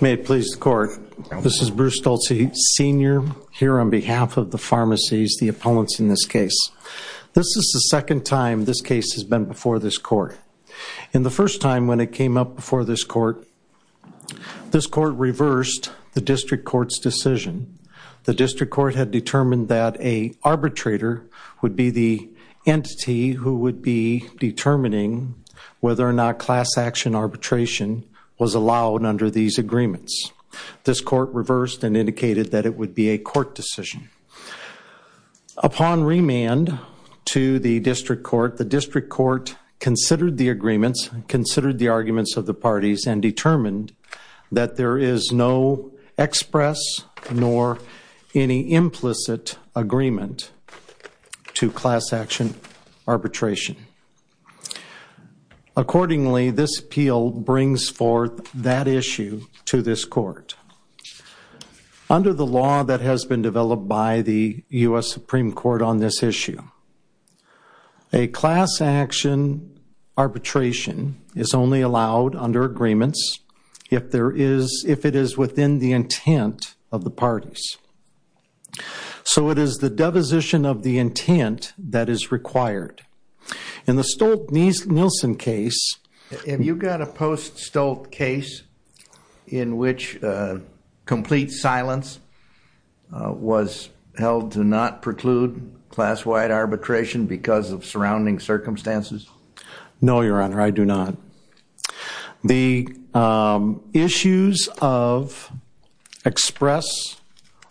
May it please the court. This is Bruce Stolze, Sr. here on behalf of the pharmacies, the opponents in this case. This is the second time this case has been before this court. In the first time when it came up before this court, this court reversed the district court's decision. The district court had determined that a arbitrator would be the entity who would be determining whether or not class-action arbitration was allowed under these agreements. This court reversed and indicated that it would be a court decision. Upon remand to the district court, the district court considered the agreements, considered the arguments of the parties, and determined that there is no express nor any Accordingly, this appeal brings forth that issue to this court. Under the law that has been developed by the US Supreme Court on this issue, a class-action arbitration is only allowed under agreements if there is, if it is within the intent of the parties. So it is the deposition of the intent that is Have you got a post-Stoltz case in which complete silence was held to not preclude class-wide arbitration because of surrounding circumstances? No, Your Honor, I do not. The issues of express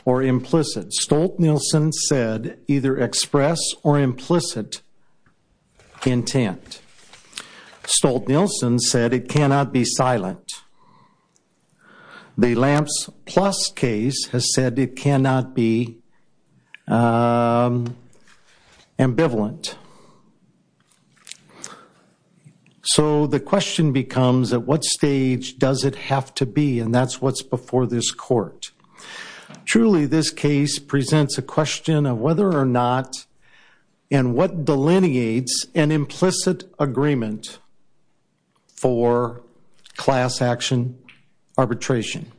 or implicit, Stoltz-Nielsen said either express or implicit intent. Stoltz-Nielsen said it cannot be silent. The Lamps Plus case has said it cannot be ambivalent. So the question becomes, at what stage does it have to be? And that's what's before this court. Truly, this case presents a question of whether or not and what delineates an implicit agreement for class-action arbitration.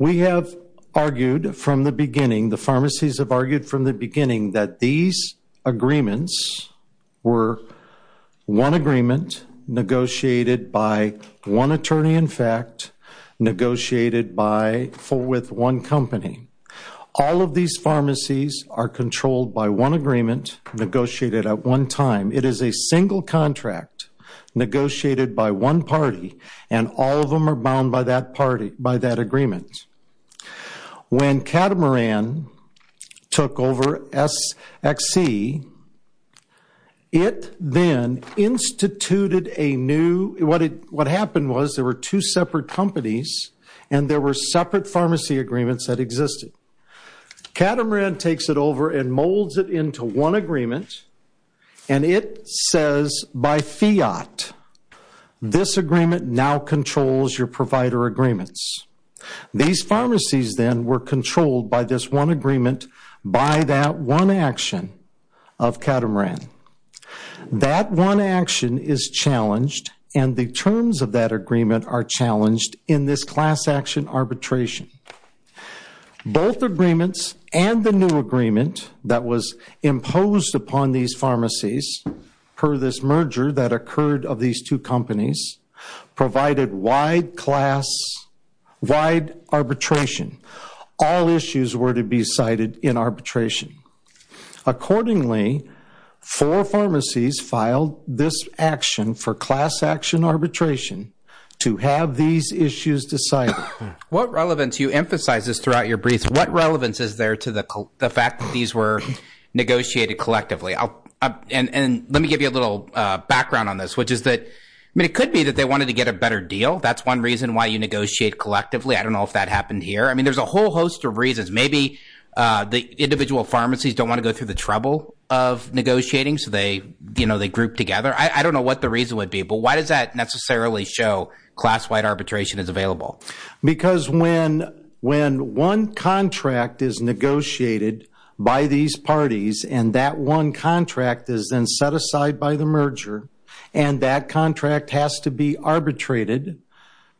We have argued from the beginning, the pharmacies have argued from the beginning, that these agreements were one agreement negotiated by one attorney, in fact, negotiated by, for with one company. All of these pharmacies are controlled by one agreement, negotiated at one time. It is a single contract, negotiated by one party, and all of them are bound by that party, by that agreement. When Catamaran took over SXC, it then instituted a new, what it, what happened was there were two separate companies, and there were separate pharmacy agreements that existed. Catamaran takes it over and molds it into one agreement, and it says by fiat, this agreement now controls your provider agreements. These pharmacies then were controlled by this one agreement, by that one action of Catamaran. That one action is challenged, and the terms of that agreement are challenged in this class-action arbitration. Both agreements and the new agreement that was imposed upon these pharmacies, per this merger that occurred of these two companies, provided wide class, wide arbitration. All issues were to be cited in arbitration. Accordingly, four pharmacies filed this action for class-action arbitration to have these issues decided. What relevance, you emphasize this throughout your briefs, what relevance is there to the fact that these were negotiated collectively? And let me give you a little background on this, which is that, I mean, it could be that they wanted to get a better deal. That's one reason why you negotiate collectively. I don't know if that happened here. I mean, there's a whole host of reasons. Maybe the individual pharmacies don't want to go through the trouble of negotiating, so they, you know, they group together. I don't know what the reason would be, but why does that necessarily show class-wide arbitration is available? Because when when one contract is negotiated by these parties, and that one contract is then set aside by the merger, and that contract has to be arbitrated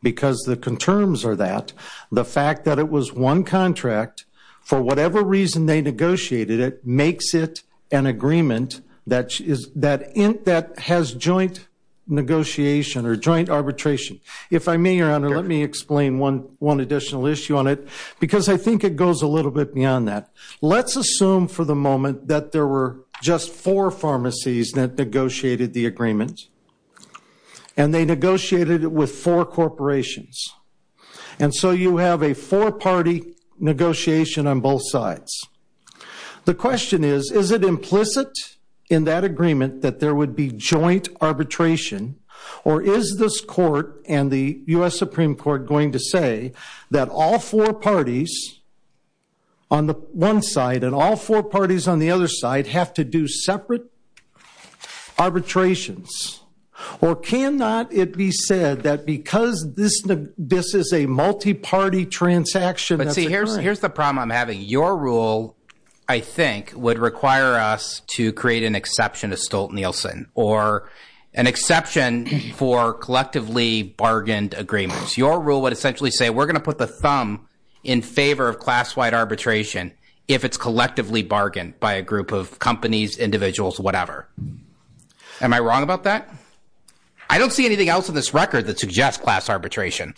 because the concerns are that the fact that it was one contract, for whatever reason they negotiated it, makes it an agreement that has joint negotiation or joint arbitration. If I may, Your Honor, let me explain one additional issue on it, because I think it goes a little bit beyond that. Let's assume for the moment that there were just four pharmacies that negotiated the corporations, and so you have a four-party negotiation on both sides. The question is, is it implicit in that agreement that there would be joint arbitration, or is this court and the US Supreme Court going to say that all four parties on the one side and all four parties on the other side have to do this? This is a multi-party transaction. But see, here's the problem I'm having. Your rule, I think, would require us to create an exception to Stolt- Nielsen, or an exception for collectively bargained agreements. Your rule would essentially say we're gonna put the thumb in favor of class-wide arbitration if it's collectively bargained by a group of companies, individuals, whatever. Am I wrong about that? I don't see anything else in this record that suggests class arbitration.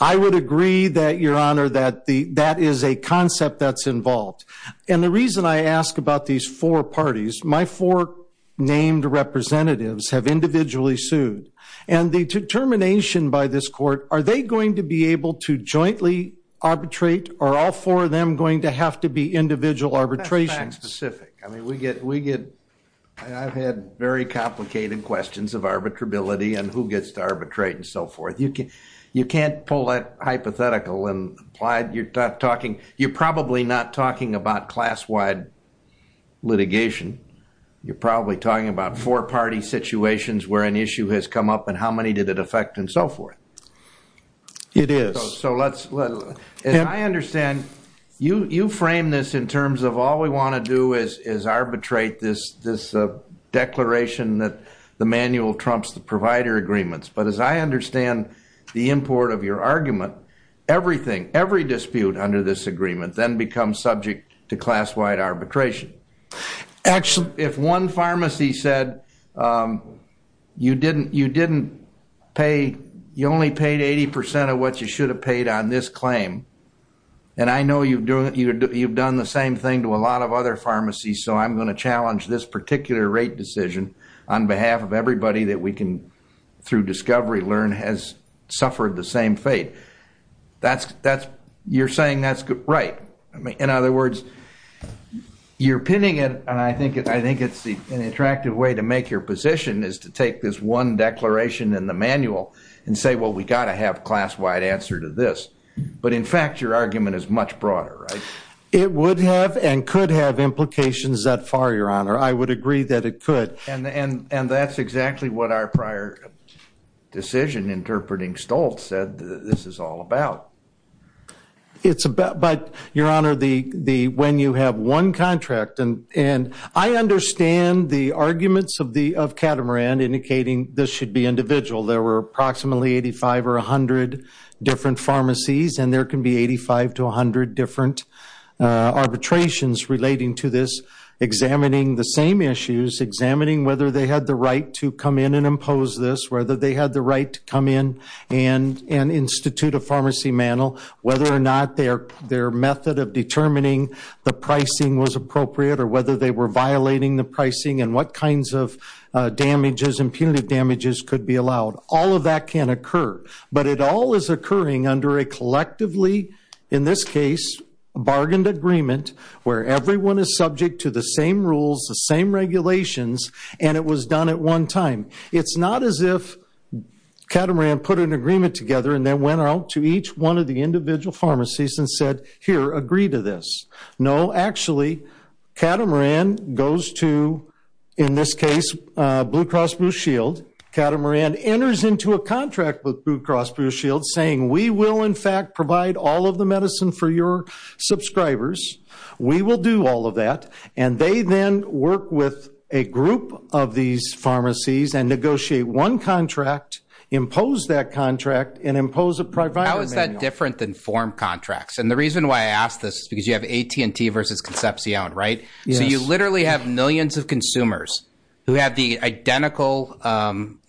I would agree that, Your Honor, that that is a concept that's involved. And the reason I ask about these four parties, my four named representatives have individually sued. And the determination by this court, are they going to be able to jointly arbitrate, or are all four of them going to have to be individual arbitrations? That's fact-specific. I mean, we get, we get, I've had very many cases of arbitrate and so forth. You can't pull that hypothetical and apply it. You're talking, you're probably not talking about class-wide litigation. You're probably talking about four-party situations where an issue has come up, and how many did it affect, and so forth. It is. So let's, as I understand, you, you frame this in terms of all we want to do is arbitrate this, this declaration that the manual trumps the provider agreements. But as I understand the import of your argument, everything, every dispute under this agreement, then becomes subject to class-wide arbitration. Actually, if one pharmacy said, you didn't, you didn't pay, you only paid 80% of what you should have paid on this claim, and I know you've doing, you've done the same thing to a lot of other pharmacies, so I'm going to challenge this particular rate decision on behalf of everybody that we can, through discovery, learn has suffered the same fate. That's, that's, you're saying that's good, right. I mean, in other words, you're pinning it, and I think it, I think it's the, an attractive way to make your position is to take this one declaration in the manual and say, well, we got to have class-wide answer to this. But in fact, your argument is much broader, right? It would have and could have implications that far, your honor. I would agree that it could. And, and, and that's exactly what our prior decision, interpreting Stoltz, said this is all about. It's about, but your honor, the, the, when you have one contract, and, and I understand the arguments of the, of Catamaran indicating this should be individual. There were approximately 85 or 100 different pharmacies, and there can be 85 to 100 different arbitrations relating to this, examining the same issues, examining whether they had the right to come in and impose this, whether they had the right to come in and, and institute a pharmacy manual, whether or not their, their method of determining the pricing was appropriate, or whether they were violating the pricing, and what kinds of damages, impunitive damages could be allowed. All of that can occur, but it all is occurring under a mutually, in this case, bargained agreement, where everyone is subject to the same rules, the same regulations, and it was done at one time. It's not as if Catamaran put an agreement together and then went out to each one of the individual pharmacies and said, here, agree to this. No, actually, Catamaran goes to, in this case, Blue Cross Blue Shield. Catamaran enters into a contract with Blue Cross Blue Shield, saying, we will, in fact, provide all of the medicine for your subscribers. We will do all of that, and they then work with a group of these pharmacies and negotiate one contract, impose that contract, and impose a provider manual. How is that different than form contracts? And the reason why I ask this is because you have AT&T versus Concepcion, right? So you literally have millions of consumers who have the identical,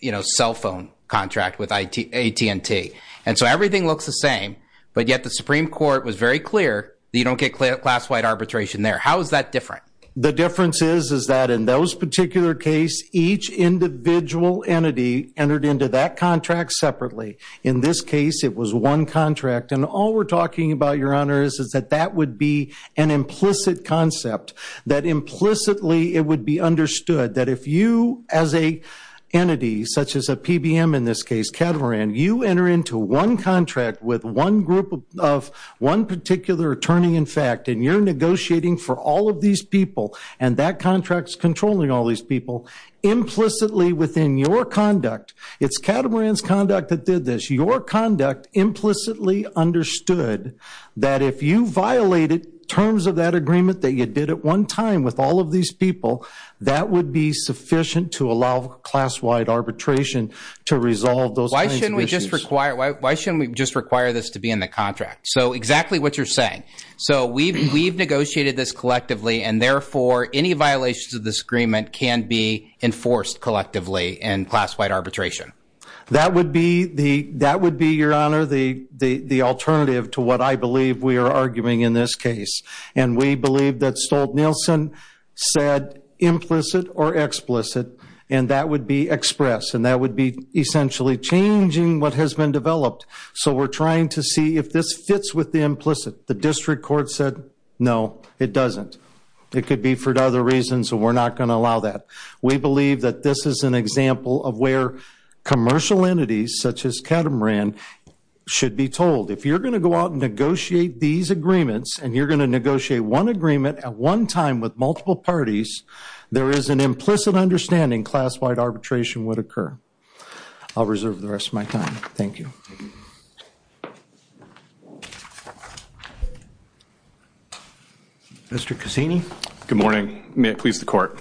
you know, cell phone contract with AT&T, and so everything looks the same, but yet the Supreme Court was very clear that you don't get class-wide arbitration there. How is that different? The difference is, is that in those particular case, each individual entity entered into that contract separately. In this case, it was one contract, and all we're talking about, Your Honor, is that that would be an implicit concept, that implicitly, it would be understood that if you, as a entity, such as a PBM in this case, Catamaran, you enter into one contract with one group of, one particular attorney, in fact, and you're negotiating for all of these people, and that contract's controlling all these people, implicitly within your conduct, it's Catamaran's conduct that did this, your conduct implicitly understood that if you violated terms of that agreement that you did at one time with all of these people, that would be sufficient to allow class-wide arbitration to resolve those kinds of issues. Why shouldn't we just require, why shouldn't we just require this to be in the contract? So exactly what you're saying. So we've, we've negotiated this collectively, and therefore, any violations of this agreement can be enforced collectively in class-wide arbitration. That would be the, that would be, Your Honor, the, the, the alternative to what I believe we are arguing in this case, and we believe that Stolt-Nielsen said implicit or explicit, and that would be express, and that would be essentially changing what has been developed. So we're trying to see if this fits with the implicit. The district court said no, it doesn't. It could be for other reasons, so we're not going to allow that. We believe that this is an example of where commercial entities such as Catamaran should be told, if you're going to go out and negotiate these agreements, and you're going to negotiate one agreement at one time with would occur. I'll reserve the rest of my time. Thank you. Mr. Cassini. Good morning. May it please the court.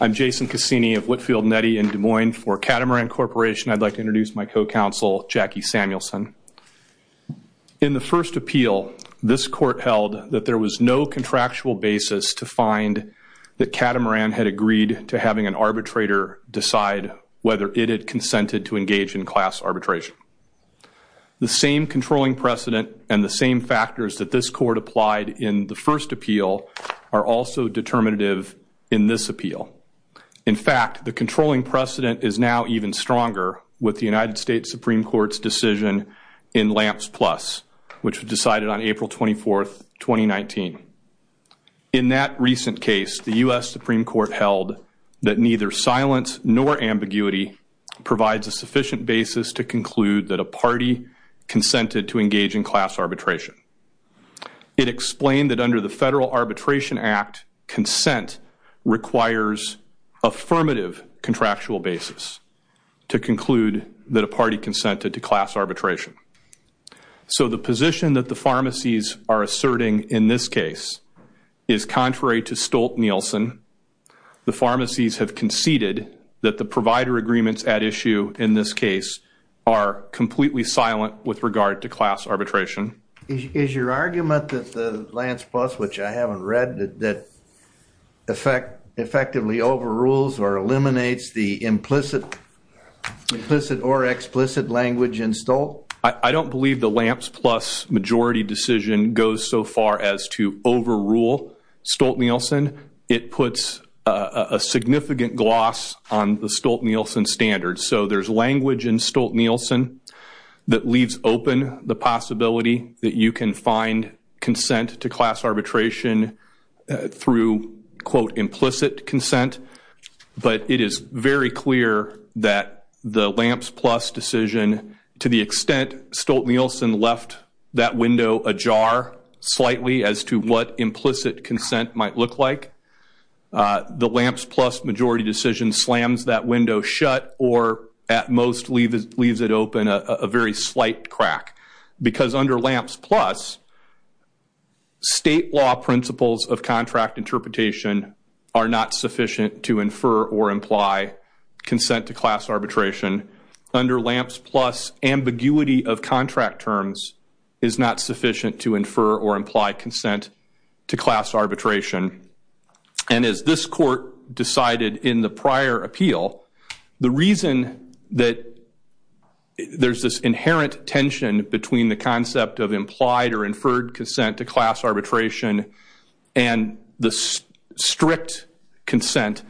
I'm Jason Cassini of Whitfield Nettie in Des Moines for Catamaran Corporation. I'd like to introduce my co-counsel, Jackie Samuelson. In the first appeal, this court held that there was no contractual basis to find that Catamaran had agreed to having an arbitrator decide whether it had consented to engage in class arbitration. The same controlling precedent and the same factors that this court applied in the first appeal are also determinative in this appeal. In fact, the controlling precedent is now even stronger with the United States Supreme Court's decision in Lamps Plus, which was decided on April 24th, 2019. In that recent case, the U.S. Supreme Court held that neither silence nor ambiguity provides a sufficient basis to conclude that a party consented to engage in class arbitration. It explained that under the Federal Arbitration Act, consent requires affirmative contractual basis to conclude that a party consented to class arbitration. So the position that the pharmacies are asserting in this case is contrary to Stolt-Nielsen. The pharmacies have conceded that the provider agreements at issue in this case are completely silent with regard to class arbitration. Is your argument that the Lamps Plus, which I haven't read, that effectively overrules or eliminates the implicit or explicit language in to overrule Stolt-Nielsen? It puts a significant gloss on the Stolt-Nielsen standards. So there's language in Stolt-Nielsen that leaves open the possibility that you can find consent to class arbitration through, quote, implicit consent. But it is very clear that the Lamps Plus decision, to the extent of what implicit consent might look like, the Lamps Plus majority decision slams that window shut or, at most, leaves it open a very slight crack. Because under Lamps Plus, state law principles of contract interpretation are not sufficient to infer or imply consent to class arbitration. Under Lamps Plus, ambiguity of contract terms is not sufficient to infer or imply consent to class arbitration. And as this court decided in the prior appeal, the reason that there's this inherent tension between the concept of implied or inferred consent to class arbitration and the strict consent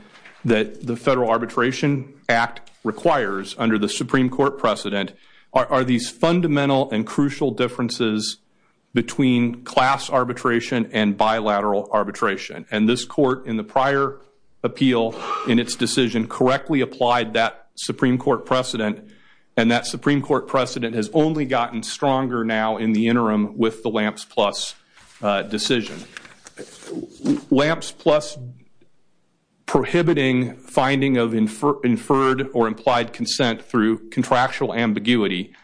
that the Federal Arbitration Act requires under the Supreme Court precedent are these fundamental and crucial differences between class arbitration and bilateral arbitration. And this court, in the prior appeal, in its decision, correctly applied that Supreme Court precedent. And that Supreme Court precedent has only gotten stronger now in the interim with the Lamps Plus decision. Lamps Plus prohibiting finding of inferred or implied consent through contractual ambiguity.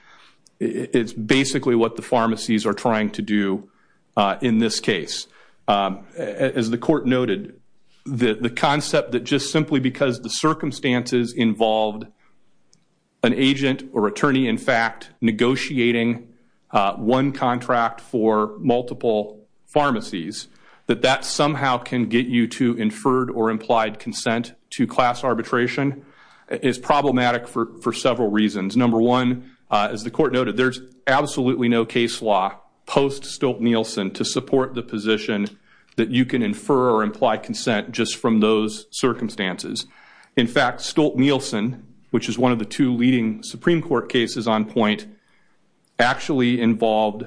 It's basically what the pharmacies are trying to do in this case. As the court noted, the concept that just simply because the circumstances involved an agent or attorney, in fact, negotiating one contract for multiple pharmacies, that that somehow can get you to inferred or implied consent to class arbitration, is problematic for several reasons. Number one, as the court noted, there's absolutely no case law post Stolt-Nielsen to support the position that you can infer or imply consent just from those circumstances. In fact, Stolt-Nielsen, which is one of the two leading Supreme Court cases on point, actually involved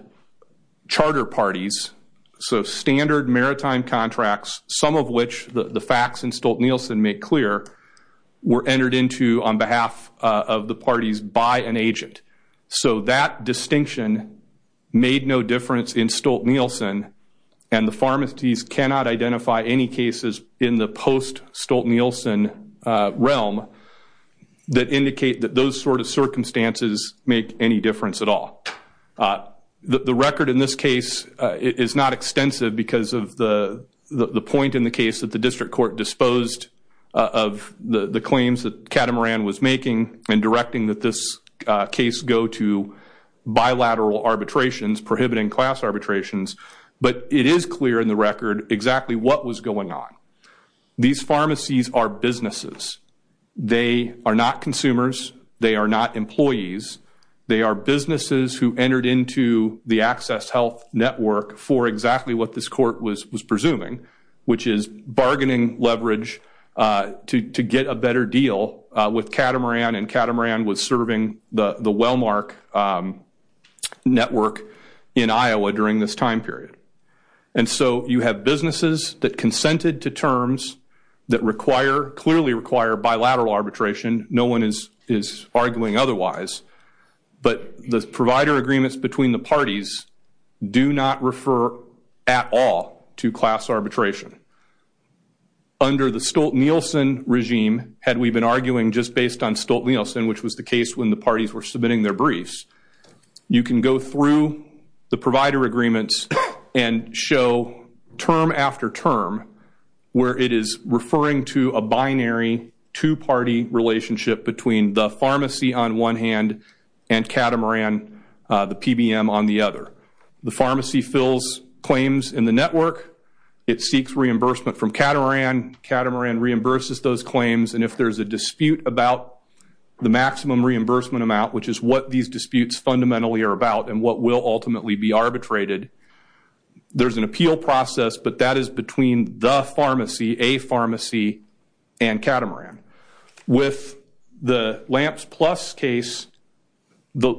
charter parties. So standard maritime contracts, some of which the facts in Stolt-Nielsen make clear, were entered into on behalf of the parties by an agent. So that distinction made no difference in Stolt-Nielsen. And the pharmacies cannot identify any cases in the post Stolt-Nielsen realm that indicate that those sort of circumstances make any difference at all. The record in this case is not extensive because of the the point in the case that the district court disposed of the the claims that Catamaran was making and directing that this case go to bilateral arbitrations, prohibiting class arbitrations, but it is clear in the record exactly what was going on. These pharmacies are businesses. They are not consumers. They are not employees. They are businesses who entered into the access health network for exactly what this court was presuming, which is bargaining leverage to get a better deal with Catamaran. And Catamaran was serving the the Wellmark network in Iowa during this time period. And so you have businesses that consented to terms that require, clearly require, bilateral arbitration. No one is is arguing otherwise. But the provider agreements between the parties do not refer at all to class arbitration. Under the Stolt-Nielsen regime, had we been arguing just based on Stolt-Nielsen, which was the case when the parties were submitting their briefs, you can go through the provider agreements and show term after term where it is referring to a binary two-party relationship between the pharmacy on one hand and Catamaran, the PBM on the other. The pharmacy fills claims in the network. It seeks reimbursement from Catamaran. Catamaran reimburses those claims. And if there's a dispute about the maximum reimbursement amount, which is what these disputes fundamentally are about and what will ultimately be arbitrated, there's an appeal process. But that is between the pharmacy, a pharmacy, and Catamaran. With the LAMPS Plus case, the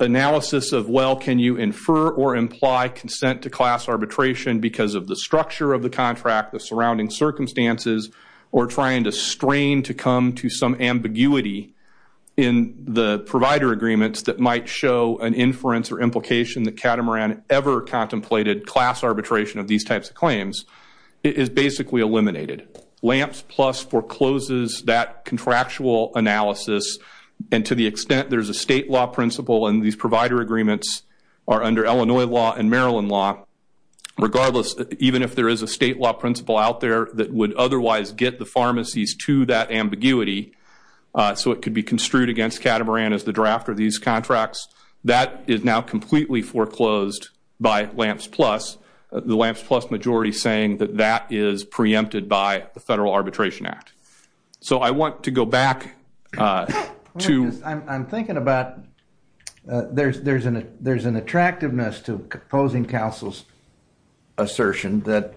analysis of well, can you infer or imply consent to class arbitration because of the structure of the contract, the surrounding circumstances, or trying to strain to come to some ambiguity in the provider agreements that might show an inference or implication that Catamaran ever contemplated class arbitration of these types of claims is basically eliminated. LAMPS Plus forecloses that contractual analysis and to the extent there's a state law principle and these are under Illinois law and Maryland law, regardless, even if there is a state law principle out there that would otherwise get the pharmacies to that ambiguity so it could be construed against Catamaran as the draft of these contracts, that is now completely foreclosed by LAMPS Plus. The LAMPS Plus majority saying that that is preempted by the Federal Arbitration Act. So I want to go back to. I'm thinking about there's an attractiveness to opposing counsel's assertion that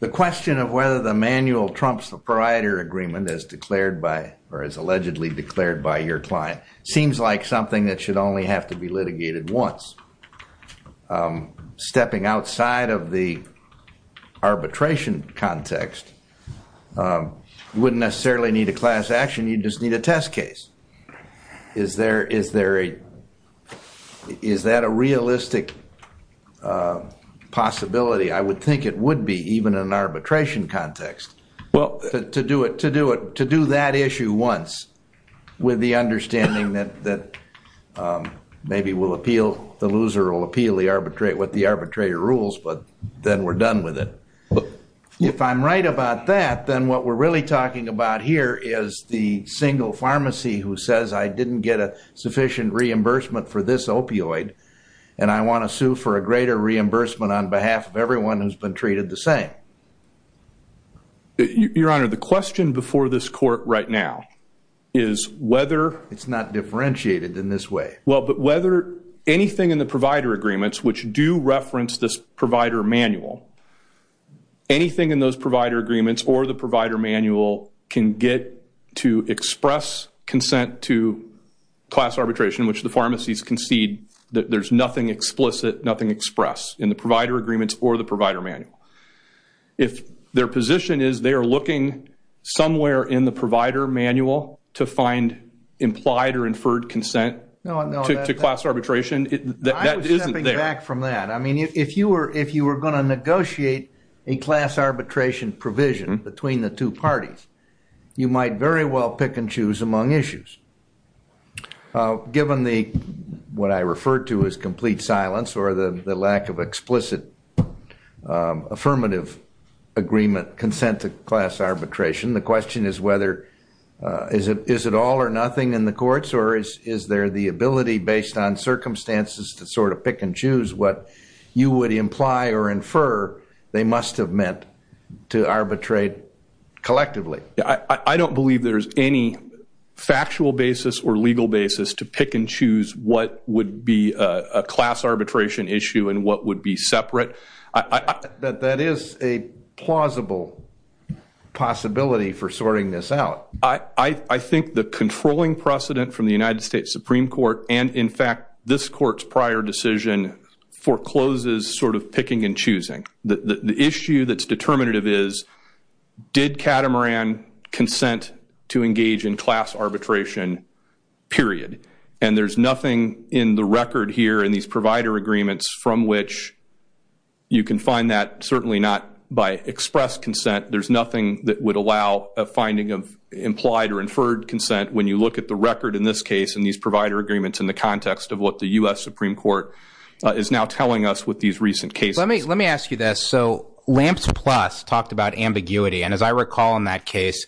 the question of whether the manual trumps the provider agreement as declared by or as allegedly declared by your client seems like something that should only have to be litigated once. Stepping outside of the arbitration context wouldn't necessarily need a class action you just need a test case. Is there, is there a, is that a realistic possibility? I would think it would be even in an arbitration context. Well to do it, to do it, to do that issue once with the understanding that that maybe will appeal, the loser will appeal the arbitrate what the arbitrator rules but then we're done with it. If I'm right about that then what we're really talking about here is the single pharmacy who says I didn't get a sufficient reimbursement for this opioid and I want to sue for a greater reimbursement on behalf of everyone who's been treated the same. Your Honor, the question before this court right now is whether. It's not differentiated in this way. Well but whether anything in the provider agreements which do reference this provider manual, anything in those provider agreements or the provider manual can get to express consent to class arbitration which the pharmacies concede that there's nothing explicit nothing expressed in the provider agreements or the provider manual. If their position is they are looking somewhere in the provider manual to find implied or inferred consent to class arbitration, that isn't there. I mean if you were if you were going to negotiate a class arbitration provision between the two parties, you might very well pick and choose among issues. Given the what I referred to as complete silence or the lack of explicit affirmative agreement consent to class arbitration, the question is whether is it is it all or nothing in the courts or is is there the ability based on choose what you would imply or infer they must have meant to arbitrate collectively. I don't believe there's any factual basis or legal basis to pick and choose what would be a class arbitration issue and what would be separate. That is a plausible possibility for sorting this out. I think the controlling precedent from the United States Supreme Court and in fact this court's prior decision forecloses sort of picking and choosing. The issue that's determinative is did Catamaran consent to engage in class arbitration period and there's nothing in the record here in these provider agreements from which you can find that certainly not by express consent there's nothing that would allow a finding of implied or inferred consent when you look at the record in this case in these provider agreements in the context of what the US Supreme Court is now telling us with these recent cases. Let me let me ask you this so Lamps Plus talked about ambiguity and as I recall in that case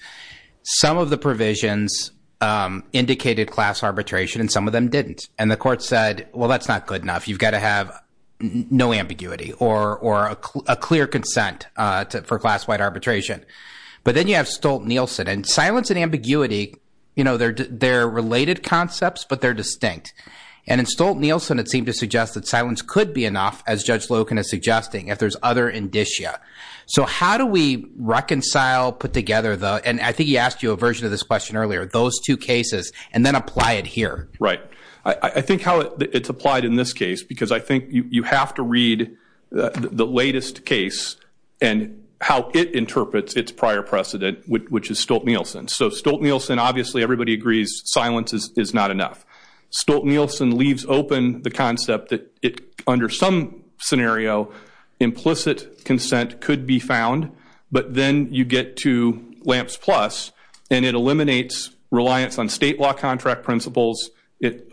some of the provisions indicated class arbitration and some of them didn't and the court said well that's not good enough you've got to have no ambiguity or or a clear consent for class-wide arbitration but then you have Stolt- Nielsen and silence and ambiguity you know they're they're related concepts but they're distinct and in Stolt-Nielsen it seemed to suggest that silence could be enough as Judge Loken is suggesting if there's other indicia so how do we reconcile put together though and I think he asked you a version of this question earlier those two cases and then apply it here. Right I think how it's applied in this case because I think you have to read the latest case and how it interprets its prior precedent which is Stolt-Nielsen so Stolt-Nielsen obviously everybody agrees silence is not enough Stolt-Nielsen leaves open the concept that it under some scenario implicit consent could be found but then you get to Lamps Plus and it eliminates reliance on state law contract principles it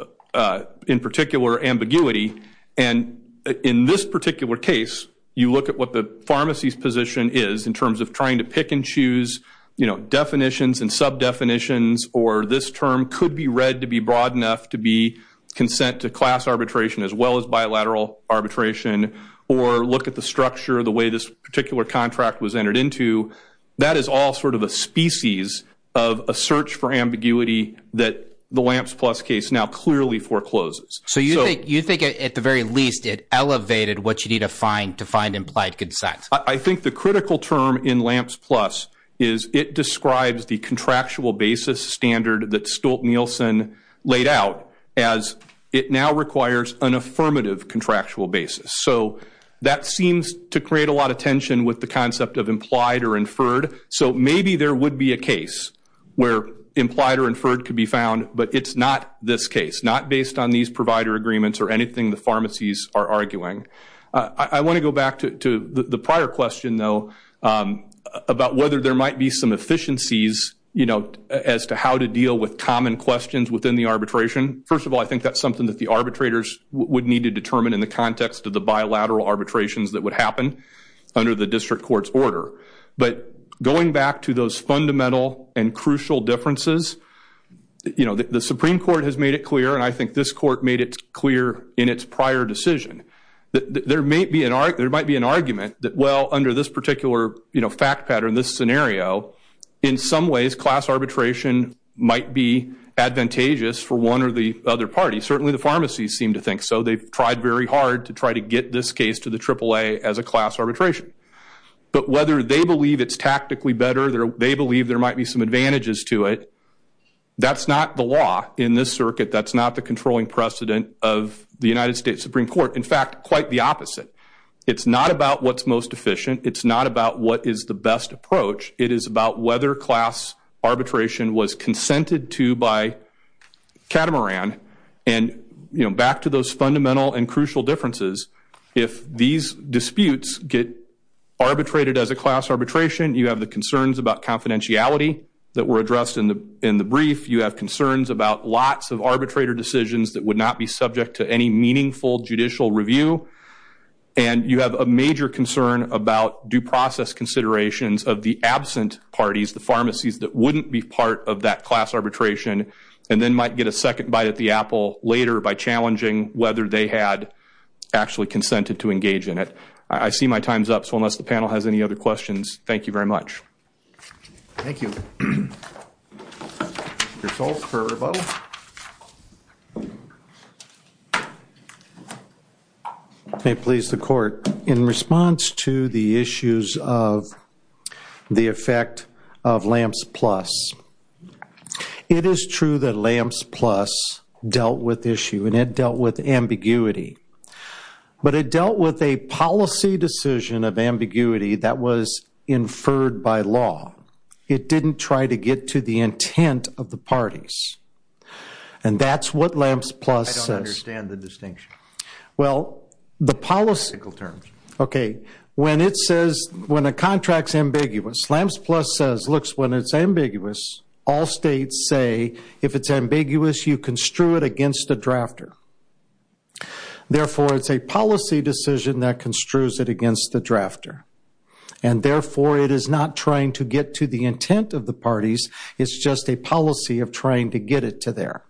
in particular ambiguity and in this particular case you look at what the pharmacy's position is in terms of trying to pick and choose you know definitions and sub definitions or this term could be read to be broad enough to be consent to class arbitration as well as bilateral arbitration or look at the structure the way this particular contract was entered into that is all sort of a species of a search for ambiguity that the Lamps Plus case now clearly forecloses. So you think at the very least it elevated what you need to find to find implied consent. I think the critical term in Lamps Plus is it describes the contractual basis standard that Stolt-Nielsen laid out as it now requires an affirmative contractual basis so that seems to create a lot of tension with the concept of implied or inferred so maybe there would be a case where implied or inferred could be found but it's not this case not based on these provider agreements or anything the pharmacies are arguing. I want to go back to the prior question though about whether there might be some efficiencies you know as to how to deal with common questions within the arbitration. First of all I think that's something that the arbitrators would need to determine in the context of the bilateral arbitrations that would happen under the district courts order but going back to those fundamental and crucial differences you know the Supreme Court has made it clear and I think this court made it clear in its prior decision that there may be an art there might be an argument that well under this particular you know fact pattern this scenario in some ways class arbitration might be advantageous for one or the other party certainly the pharmacies seem to think so they've tried very hard to try to get this case to the AAA as a class arbitration but whether they believe it's tactically better there they believe there might be some advantages to it that's not the law in this circuit that's not the controlling precedent of the United States Supreme Court in fact quite the opposite it's not about what's most efficient it's not about what is the best approach it is about whether class arbitration was consented to by catamaran and you know back to those fundamental and crucial differences if these disputes get arbitrated as a class arbitration you have the concerns about confidentiality that were addressed in the in the brief you have concerns about lots of arbitrator decisions that would not be and you have a major concern about due process considerations of the absent parties the pharmacies that wouldn't be part of that class arbitration and then might get a second bite at the Apple later by challenging whether they had actually consented to engage in it I see my time's up so unless the panel has any other questions thank you very much may please the court in response to the issues of the effect of lamps plus it is true that lamps plus dealt with issue and it dealt with ambiguity but it dealt with a policy decision of ambiguity that was inferred by law it didn't try to get to the intent of the parties and that's what lamps plus I don't understand the distinction well the policy terms okay when it says when a contracts ambiguous lamps plus says looks when it's ambiguous all states say if it's ambiguous you construe it against the drafter therefore it's a policy decision that construes it and therefore it is not trying to get to the intent of the parties it's just a policy of trying to get it to there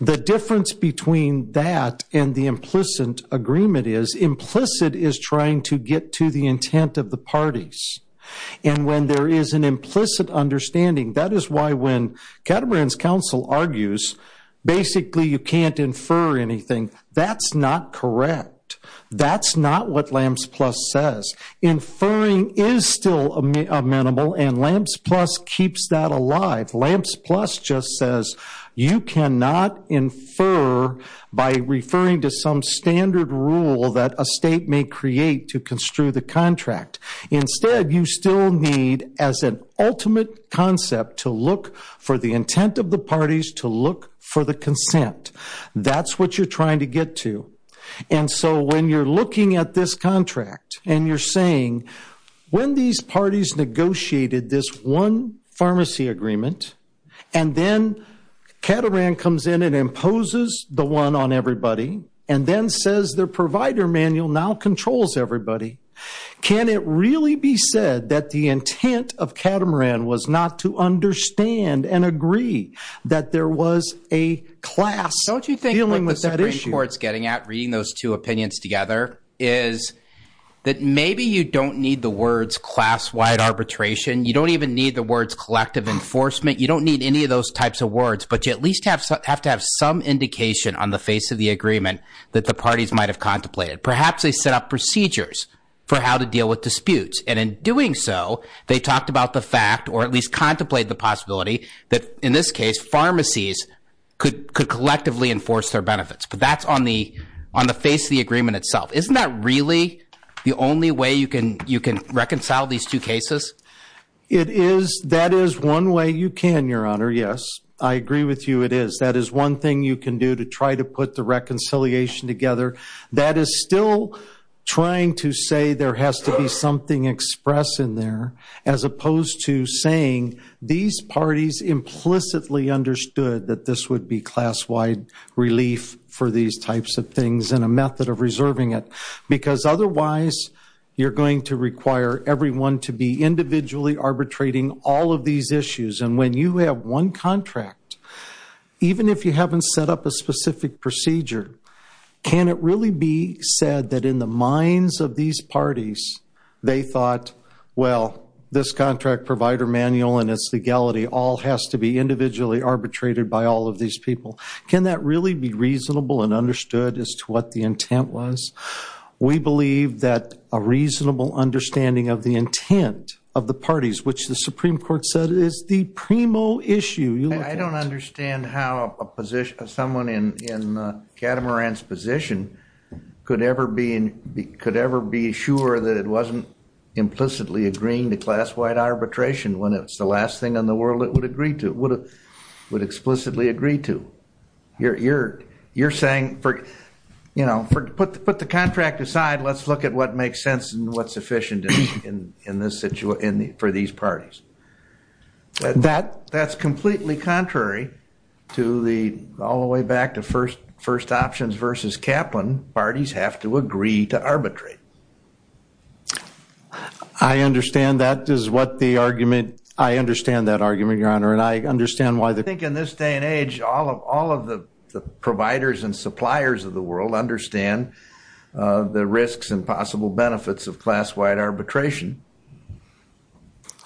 the difference between that and the implicit agreement is implicit is trying to get to the intent of the parties and when there is an implicit understanding that is why when Caterpillars counsel argues basically you can't infer anything that's not correct that's not what lamps plus says inferring is still a minimal and lamps plus keeps that alive lamps plus just says you cannot infer by referring to some standard rule that a state may create to construe the contract instead you still need as an ultimate concept to look for the intent of the parties to look for the consent that's what you're trying to get to and so when you're looking at this contract and you're saying when these parties negotiated this one pharmacy agreement and then Catamaran comes in and imposes the one on everybody and then says their provider manual now controls everybody can it really be said that the intent of courts getting at reading those two opinions together is that maybe you don't need the words class-wide arbitration you don't even need the words collective enforcement you don't need any of those types of words but you at least have to have some indication on the face of the agreement that the parties might have contemplated perhaps they set up procedures for how to deal with disputes and in doing so they talked about the fact or at least but that's on the on the face of the agreement itself isn't that really the only way you can you can reconcile these two cases it is that is one way you can your honor yes I agree with you it is that is one thing you can do to try to put the reconciliation together that is still trying to say there has to be something expressed in there as opposed to saying these parties implicitly relief for these types of things in a method of reserving it because otherwise you're going to require everyone to be individually arbitrating all of these issues and when you have one contract even if you haven't set up a specific procedure can it really be said that in the minds of these parties they thought well this contract provider manual and its legality all has to be individually arbitrated by all of these people can that really be reasonable and understood as to what the intent was we believe that a reasonable understanding of the intent of the parties which the Supreme Court said is the primo issue I don't understand how a position of someone in catamarans position could ever be in could ever be sure that it wasn't implicitly agreeing to class-wide arbitration when it's the last thing in the world it would agree to it would have explicitly agreed to you're you're you're saying for you know put the put the contract aside let's look at what makes sense and what's sufficient in in this situation for these parties that that's completely contrary to the all the way back to first first options versus Kaplan parties have to agree to arbitrate I understand that is what the argument I understand that argument your honor and I understand why they think in this day and age all of all of the providers and suppliers of the world understand the risks and possible benefits of class-wide arbitration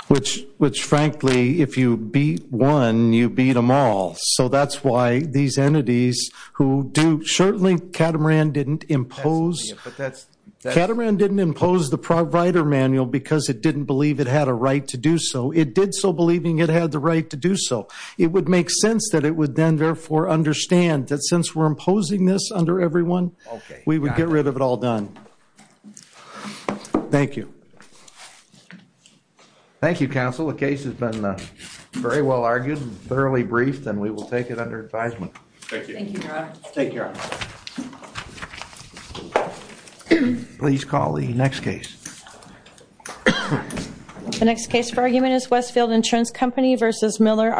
which which frankly if you beat one you beat them all so that's why these entities who do certainly catamaran didn't impose catamaran didn't impose the provider manual because it didn't believe it had a right to do so it did so believing it had the right to do so it would make sense that it would then therefore understand that since we're imposing this under everyone we would get rid of it all done thank you thank you counsel the case has been very well argued thoroughly briefed and we will take it next case for argument is Westfield insurance company versus Miller